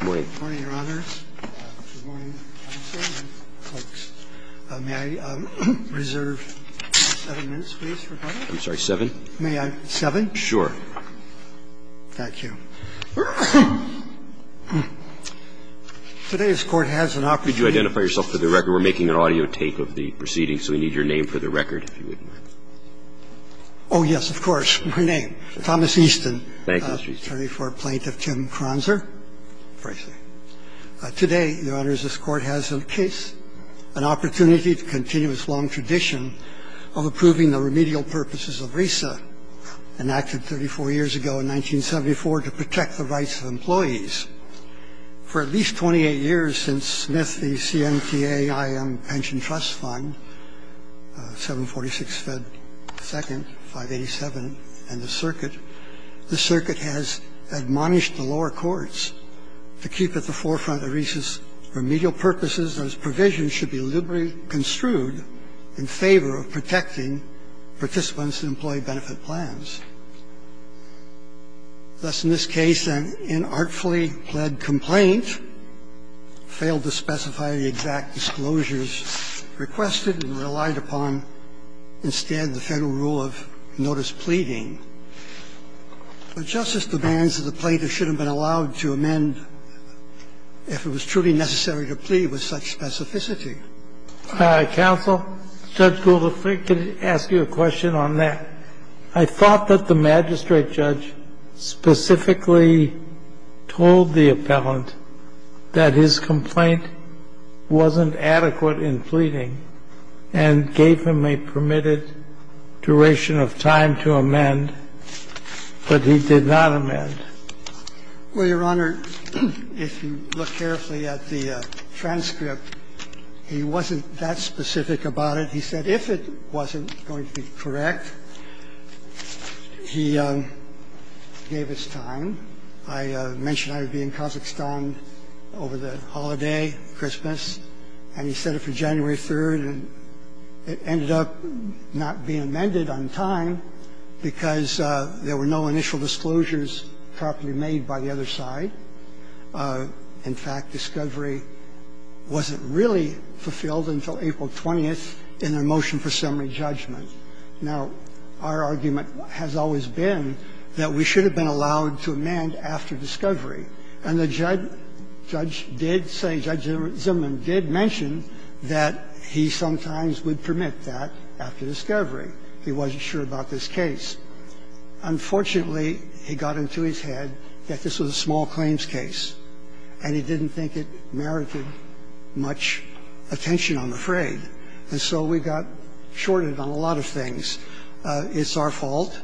Good morning, Your Honor. Good morning, folks. May I reserve seven minutes, please, for comment? I'm sorry, seven? May I? Seven? Sure. Thank you. Today's Court has an opportunity Could you identify yourself for the record? We're making an audio take of the proceedings, so we need your name for the record, if you would. Oh, yes, of course. My name. Thomas Easton. Thank you, Mr. Easton. I'm an attorney for Plaintiff Tim Kronzer. Today, Your Honors, this Court has in case an opportunity to continue its long tradition of approving the remedial purposes of RESA, enacted 34 years ago in 1974 to protect the rights of employees. For at least 28 years since Smith v. CMTA IM Pension Trust Fund, 746 Fed 2nd, 587, and the circuit, the circuit has admonished the lower courts to keep at the forefront of RESA's remedial purposes that its provisions should be liberally construed in favor of protecting participants in employee benefit plans. Thus, in this case, an inartfully pled complaint failed to specify the exact disclosures requested and relied upon instead the Federal rule of notice pleading. Justice demands that the plaintiff should have been allowed to amend if it was truly necessary to plead with such specificity. Counsel, Judge Gould, if I could ask you a question on that. I thought that the magistrate judge specifically told the appellant that his complaint wasn't adequate in pleading and gave him a permitted duration of time to amend, but he did not amend. Well, Your Honor, if you look carefully at the transcript, he wasn't that specific about it. He said if it wasn't going to be correct, he gave his time. I mentioned I would be in Kazakhstan over the holiday, Christmas, and he said it for January 3rd, and it ended up not being amended on time because there were no initial disclosures properly made by the other side. In fact, discovery wasn't really fulfilled until April 20th in the motion for summary judgment. Now, our argument has always been that we should have been allowed to amend after discovery, and the judge did say, Judge Zimmerman did mention that he sometimes would permit that after discovery. He wasn't sure about this case. Unfortunately, he got into his head that this was a small claims case, and he didn't think it merited much attention, I'm afraid. And so we got shorted on a lot of things. It's our fault.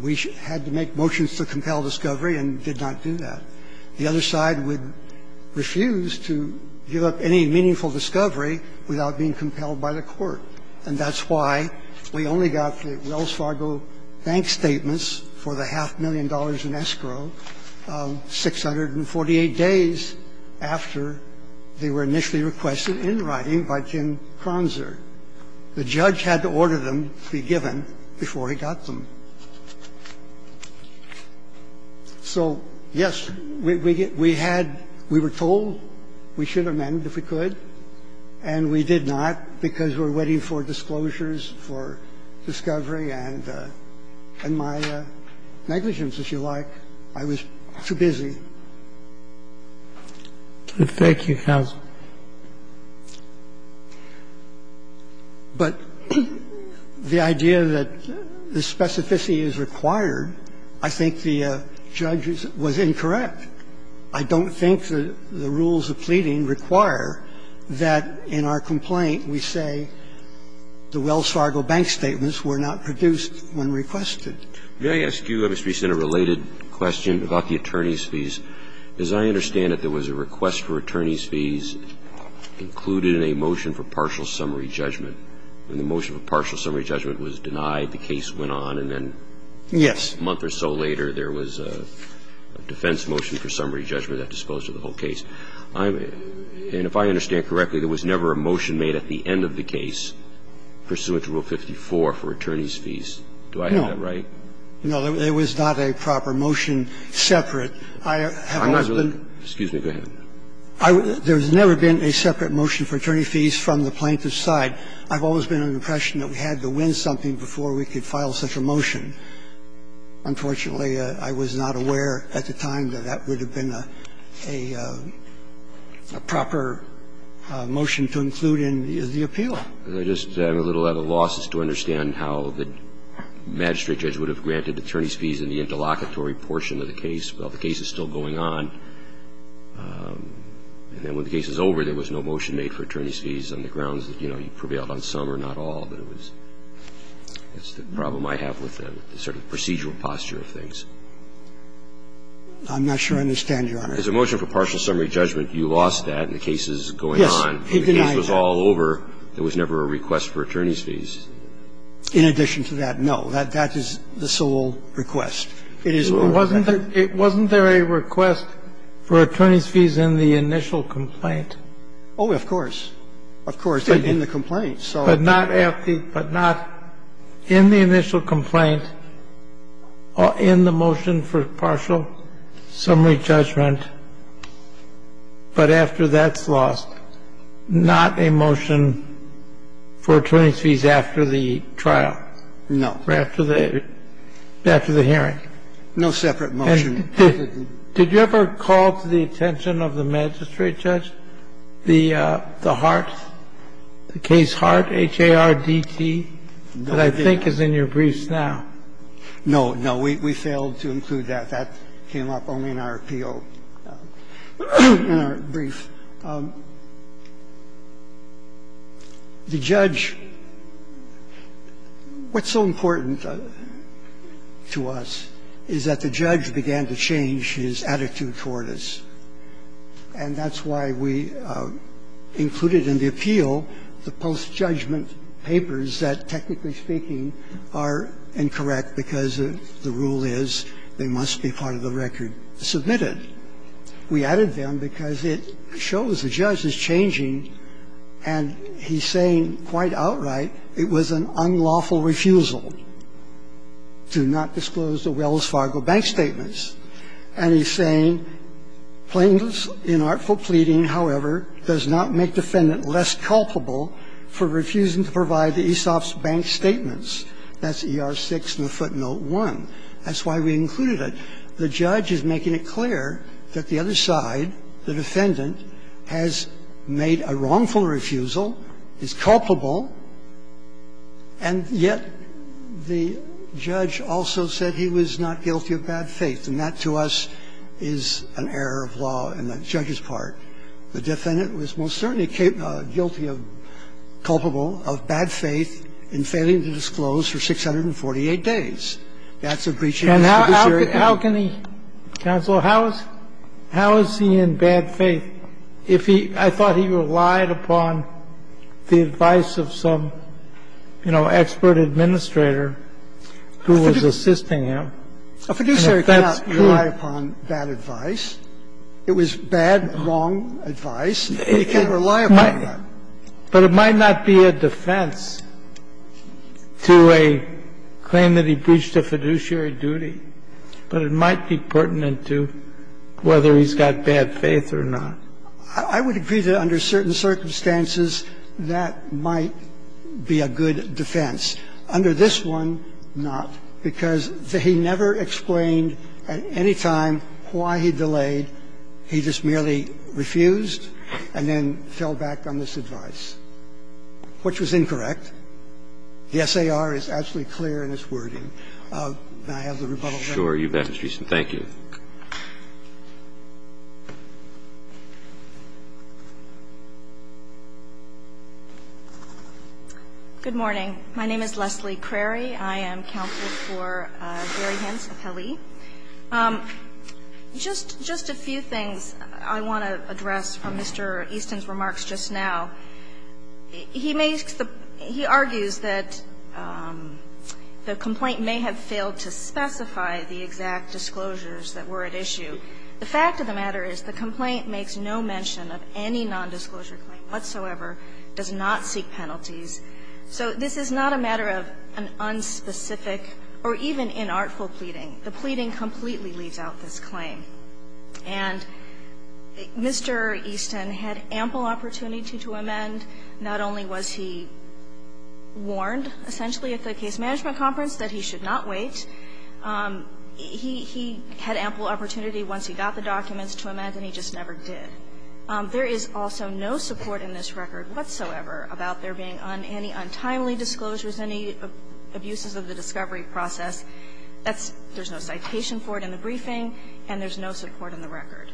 We had to make motions to compel discovery and did not do that. The other side would refuse to give up any meaningful discovery without being compelled by the court. And that's why we only got the Wells Fargo bank statements for the half million dollars in escrow 648 days after they were initially requested in writing by Jim Kronzer. The judge had to order them to be given before he got them. So, yes, we had we were told we should amend if we could, and we did not because we were waiting for disclosures for discovery and my negligence, if you like. I was too busy. Thank you, counsel. But the idea that the specificity is required, I think the judge was incorrect. I don't think that the rules of pleading require that in our complaint we say the Wells Fargo bank statements were not produced when requested. May I ask you, Mr. Bissett, a related question about the attorney's fees? As I understand it, there was a request for attorney's fees included in a motion for partial summary judgment. When the motion for partial summary judgment was denied, the case went on, and then a month or so later, there was a defense motion for summary judgment that disposed of the whole case. And if I understand correctly, there was never a motion made at the end of the case pursuant to Rule 54 for attorney's fees. Do I have that right? No. No, there was not a proper motion separate. I have always been Excuse me. Go ahead. There has never been a separate motion for attorney fees from the plaintiff's side. I've always been under the impression that we had to win something before we could file such a motion. Unfortunately, I was not aware at the time that that would have been a proper motion to include in the appeal. I just am a little at a loss as to understand how the magistrate judge would have granted attorney's fees in the interlocutory portion of the case. Well, the case is still going on. And then when the case is over, there was no motion made for attorney's fees on the grounds that, you know, he prevailed on some or not all. But it was the problem I have with the sort of procedural posture of things. I'm not sure I understand, Your Honor. There's a motion for partial summary judgment. You lost that in the cases going on. Yes. It did not exist. When the case was all over, there was never a request for attorney's fees. In addition to that, no. That is the sole request. It is the sole request. Wasn't there a request for attorney's fees in the initial complaint? Oh, of course. Of course, in the complaint. But not in the initial complaint or in the motion for partial summary judgment, but after that's lost. Not a motion for attorney's fees after the trial. No. Or after the hearing. No separate motion. Did you ever call to the attention of the magistrate judge the Hart, the case Hart H-A-R-D-T that I think is in your briefs now? No. No. We failed to include that. That came up only in our appeal, in our brief. The judge, what's so important to us is that the judge began to change his attitude toward us. And that's why we included in the appeal the post-judgment papers that, technically speaking, are incorrect because the rule is they must be part of the record submitted. We added them because it shows the judge is changing, and he's saying quite outright it was an unlawful refusal to not disclose the Wells Fargo bank statements. And he's saying plaintiff's inartful pleading, however, does not make defendant less culpable for refusing to provide the ESOP's bank statements. That's ER6 in the footnote 1. That's why we included it. The judge is making it clear that the other side, the defendant, has made a wrongful refusal, is culpable, and yet the judge also said he was not guilty of bad faith. And that, to us, is an error of law on the judge's part. The defendant was most certainly guilty of, culpable of bad faith in failing to disclose for 648 days. That's a breach of jurisdiction. And how can he, counsel, how is he in bad faith? I think if he – I thought he relied upon the advice of some, you know, expert administrator who was assisting him. A fiduciary cannot rely upon bad advice. It was bad, wrong advice. He can't rely upon that. But it might not be a defense to a claim that he breached a fiduciary duty, but it I would agree that under certain circumstances, that might be a good defense. Under this one, not, because he never explained at any time why he delayed. He just merely refused and then fell back on this advice, which was incorrect. The SAR is absolutely clear in its wording. May I have the rebuttal, Mr. Chief Justice? Roberts. Sure, you bet, Mr. Chief Justice. Thank you. Good morning. My name is Leslie Crary. I am counsel for Gary Hanson-Pelley. Just a few things I want to address from Mr. Easton's remarks just now. He makes the – he argues that the complaint may have failed to specify the exact disclosures that were at issue. The fact of the matter is the complaint makes no mention of any nondisclosure claim whatsoever, does not seek penalties. So this is not a matter of an unspecific or even inartful pleading. The pleading completely leaves out this claim. And Mr. Easton had ample opportunity to amend. Not only was he warned, essentially, at the case management conference that he should not wait, he had ample opportunity once he got the documents to amend, and he just never did. There is also no support in this record whatsoever about there being any untimely disclosures, any abuses of the discovery process. There's no citation for it in the briefing, and there's no support in the record.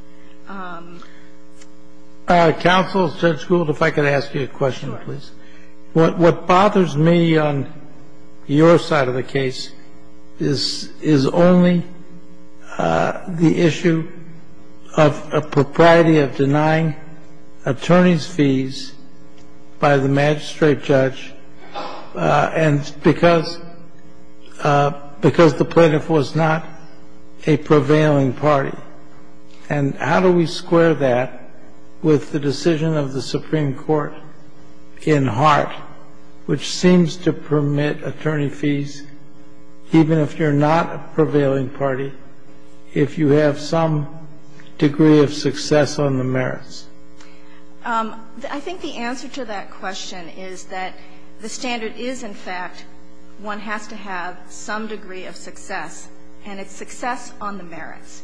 Counsel, Judge Gould, if I could ask you a question, please. What bothers me on your side of the case is only the issue of a propriety of denying attorney's fees by the magistrate judge, and because the plaintiff was not a prevailing party. And how do we square that with the decision of the Supreme Court in Hart, which seems to permit attorney fees even if you're not a prevailing party, if you have some degree of success on the merits? I think the answer to that question is that the standard is, in fact, one has to have some degree of success, and it's success on the merits.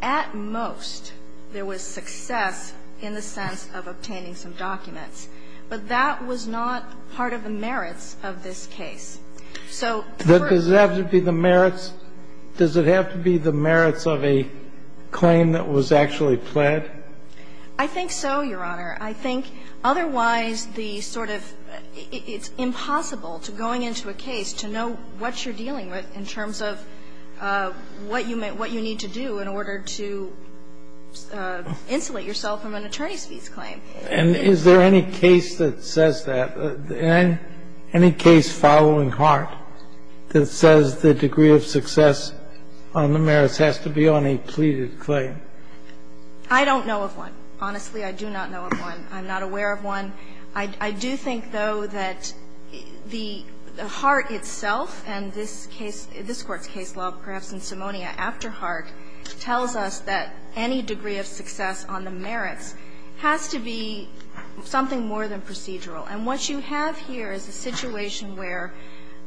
At most, there was success in the sense of obtaining some documents, but that was not part of the merits of this case. So, first of all the merits, does it have to be the merits of a claim that was actually pled? I think so, Your Honor. I think otherwise the sort of – it's impossible to going into a case to know what you're dealing with in terms of what you need to do in order to insulate yourself from an attorney's fees claim. And is there any case that says that? Any case following Hart that says the degree of success on the merits has to be on a pleaded claim? I don't know of one. Honestly, I do not know of one. I'm not aware of one. I do think, though, that the – Hart itself and this case, this Court's case law, perhaps in Simonia after Hart, tells us that any degree of success on the merits has to be something more than procedural. And what you have here is a situation where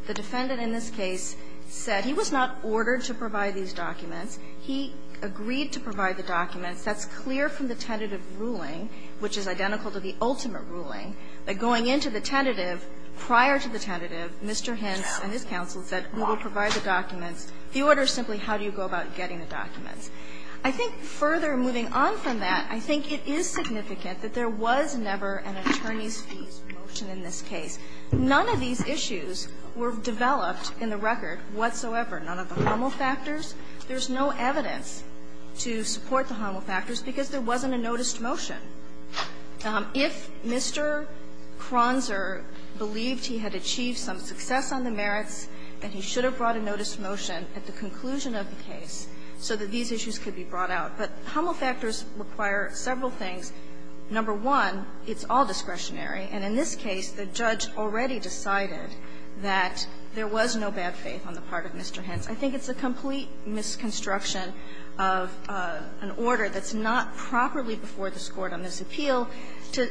the defendant in this case said he was not ordered to provide these documents. He agreed to provide the documents. That's clear from the tentative ruling, which is identical to the ultimate ruling. But going into the tentative, prior to the tentative, Mr. Hintz and his counsel said, we will provide the documents. The order is simply how do you go about getting the documents. I think further moving on from that, I think it is significant that there was never an attorney's fees motion in this case. None of these issues were developed in the record whatsoever. None of the harmal factors. There's no evidence to support the harmal factors because there wasn't a noticed motion. If Mr. Kronzer believed he had achieved some success on the merits, then he should have brought a noticed motion at the conclusion of the case so that these issues could be brought out. But harmal factors require several things. Number one, it's all discretionary. And in this case, the judge already decided that there was no bad faith on the part of Mr. Hintz. I think it's a complete misconstruction of an order that's not properly before this Court on this appeal to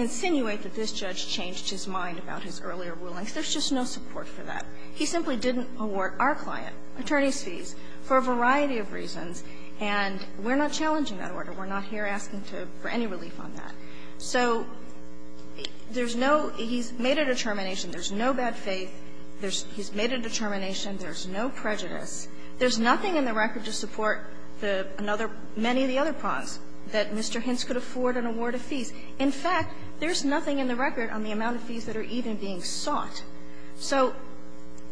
insinuate that this judge changed his mind about his earlier rulings. There's just no support for that. He simply didn't award our client attorney's fees for a variety of reasons. And we're not challenging that order. We're not here asking for any relief on that. So there's no – he's made a determination. There's no bad faith. He's made a determination. There's no prejudice. There's nothing in the record to support the another – many of the other problems that Mr. Hintz could afford and award a fee. In fact, there's nothing in the record on the amount of fees that are even being sought. So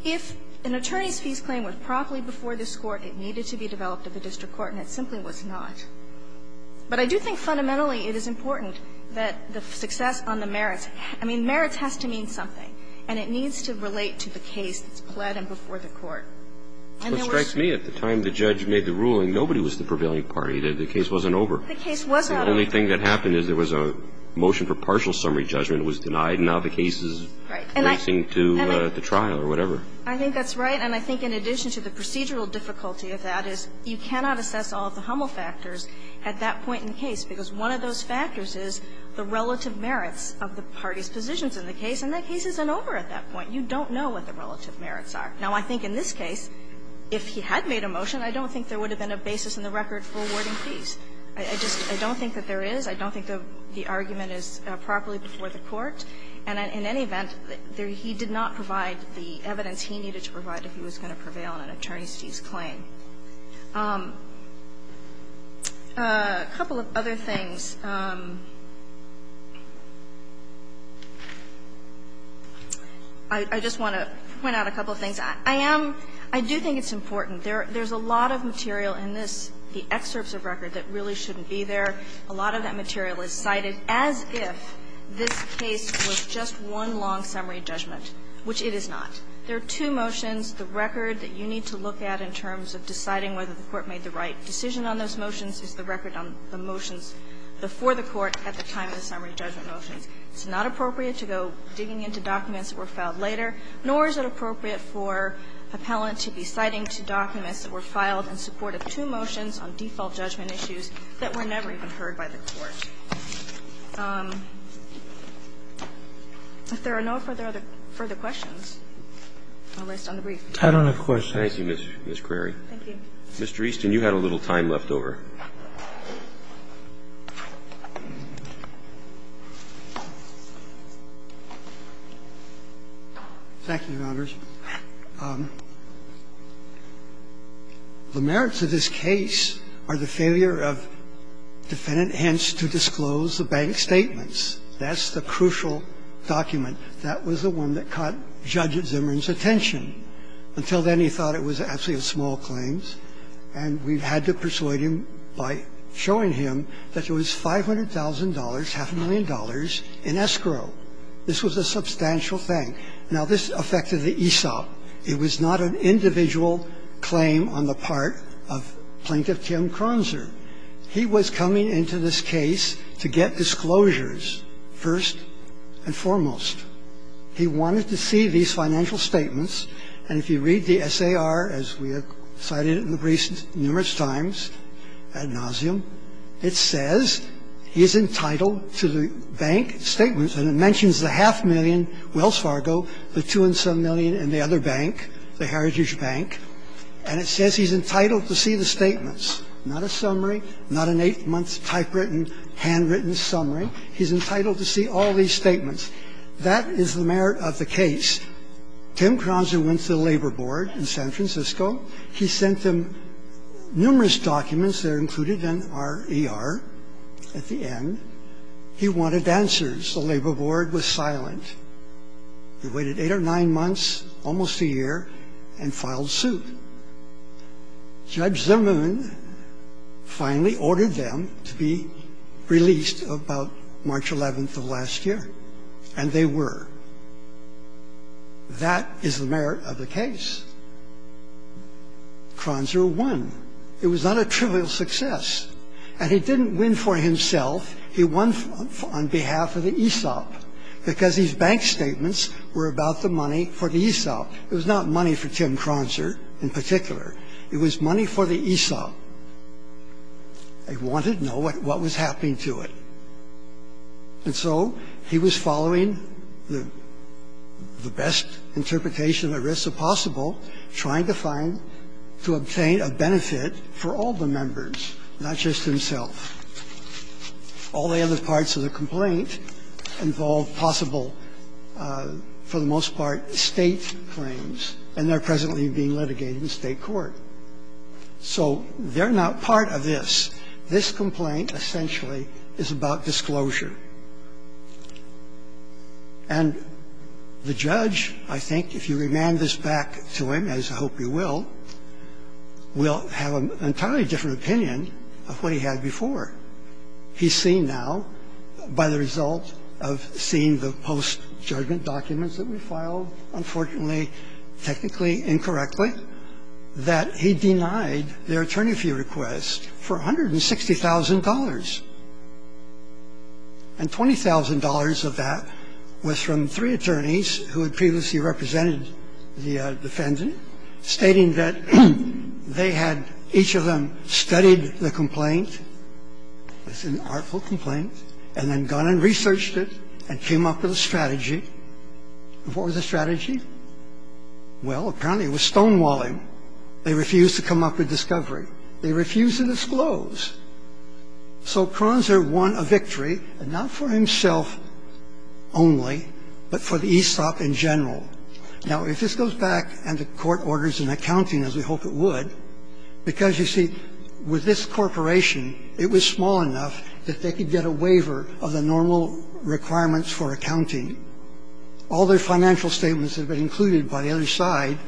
if an attorney's fees claim was properly before this Court, it needed to be developed at the district court, and it simply was not. But I do think fundamentally it is important that the success on the merits – I mean, merits has to mean something, and it needs to relate to the case that's pled and before the court. And there was – But it strikes me, at the time the judge made the ruling, nobody was the prevailing party. The case wasn't over. The case was not over. The only thing that happened is there was a motion for partial summary judgment. It was denied, and now the case is facing to the trial or whatever. I think that's right. And I think in addition to the procedural difficulty of that is you cannot assess all of the Hummel factors at that point in the case, because one of those factors is the relative merits of the party's positions in the case, and that case isn't over at that point. You don't know what the relative merits are. Now, I think in this case, if he had made a motion, I don't think there would have been a basis in the record for awarding fees. I just – I don't think that there is. I don't think the argument is properly before the court. And in any event, he did not provide the evidence he needed to provide if he was going to prevail on an attorney's fees claim. A couple of other things. I just want to point out a couple of things. I am – I do think it's important. There's a lot of material in this, the excerpts of record, that really shouldn't be there. A lot of that material is cited as if this case was just one long summary judgment, which it is not. There are two motions. It's not appropriate to go digging into documents that were filed later, nor is it appropriate for an appellant to be citing two documents that were filed in support of two motions on default judgment issues that were never even heard by the court. If there are no further questions, I'll rest on the brief. I don't have questions. Thank you, Ms. Crary. Thank you. Mr. Easton, you had a little time left over. Thank you, Your Honors. The merits of this case are the failure of Defendant Hentz to disclose the bank statements. That's the crucial document. That was the one that caught Judge Zimmern's attention. Until then, he thought it was actually a small claim, and we've had to persuade him by showing him that there was $500,000, half a million dollars, in escrow. This was a substantial thing. Now, this affected the ESOP. It was not an individual claim on the part of Plaintiff Tim Kronzer. He was coming into this case to get disclosures, first and foremost. He wanted to see these financial statements. And if you read the SAR, as we have cited it in the briefs numerous times ad nauseam, it says he is entitled to the bank statements, and it mentions the half million, Wells Fargo, the two and some million, and the other bank, the Heritage Bank. And it says he's entitled to see the statements. Not a summary, not an eight-month typewritten, handwritten summary. He's entitled to see all these statements. That is the merit of the case. Tim Kronzer went to the Labor Board in San Francisco. He sent them numerous documents that are included in our ER at the end. He wanted answers. The Labor Board was silent. They waited eight or nine months, almost a year, and filed suit. Judge Zimmern finally ordered them to be released about March 11th of last year. And they were. That is the merit of the case. Kronzer won. It was not a trivial success. And he didn't win for himself. He won on behalf of the Aesop, because these bank statements were about the money for the Aesop. It was not money for Tim Kronzer in particular. It was money for the Aesop. They wanted to know what was happening to it. And so he was following the best interpretation of the risks of possible, trying to find to obtain a benefit for all the members, not just himself. All the other parts of the complaint involve possible, for the most part, State claims, and they're presently being litigated in State court. So they're not part of this. Now, this is a different case. This is a different case. This complaint essentially is about disclosure. And the judge, I think, if you remand this back to him, as I hope you will, will have an entirely different opinion of what he had before. He's seen now, by the result of seeing the post-judgment documents that we filed, he's seen now, unfortunately, technically incorrectly, that he denied their attorney fee request for $160,000. And $20,000 of that was from three attorneys who had previously represented the defendant, stating that they had each of them studied the complaint. It's an artful complaint. And then gone and researched it and came up with a strategy. And what was the strategy? Well, apparently it was stonewalling. They refused to come up with discovery. They refused to disclose. So Pranzer won a victory, and not for himself only, but for the ESOP in general. Now, if this goes back and the court orders an accounting, as we hope it would, because, you see, with this corporation, it was small enough that they could get a waiver of the normal requirements for accounting. All their financial statements that have been included by the other side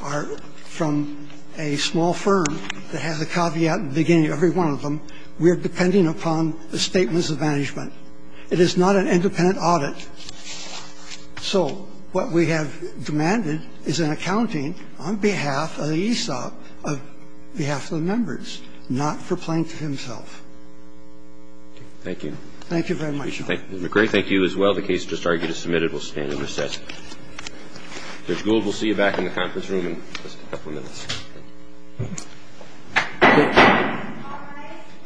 are from a small firm that has a caveat at the beginning of every one of them. We are depending upon the statements of management. It is not an independent audit. So what we have demanded is an accounting on behalf of the ESOP, on behalf of the members, not for Plank himself. Thank you. Thank you very much, Your Honor. Mr. McGray, thank you as well. The case just argued is submitted. We'll stand and recess. Judge Gould, we'll see you back in the conference room in just a couple minutes. Thank you. Thank you. All rise.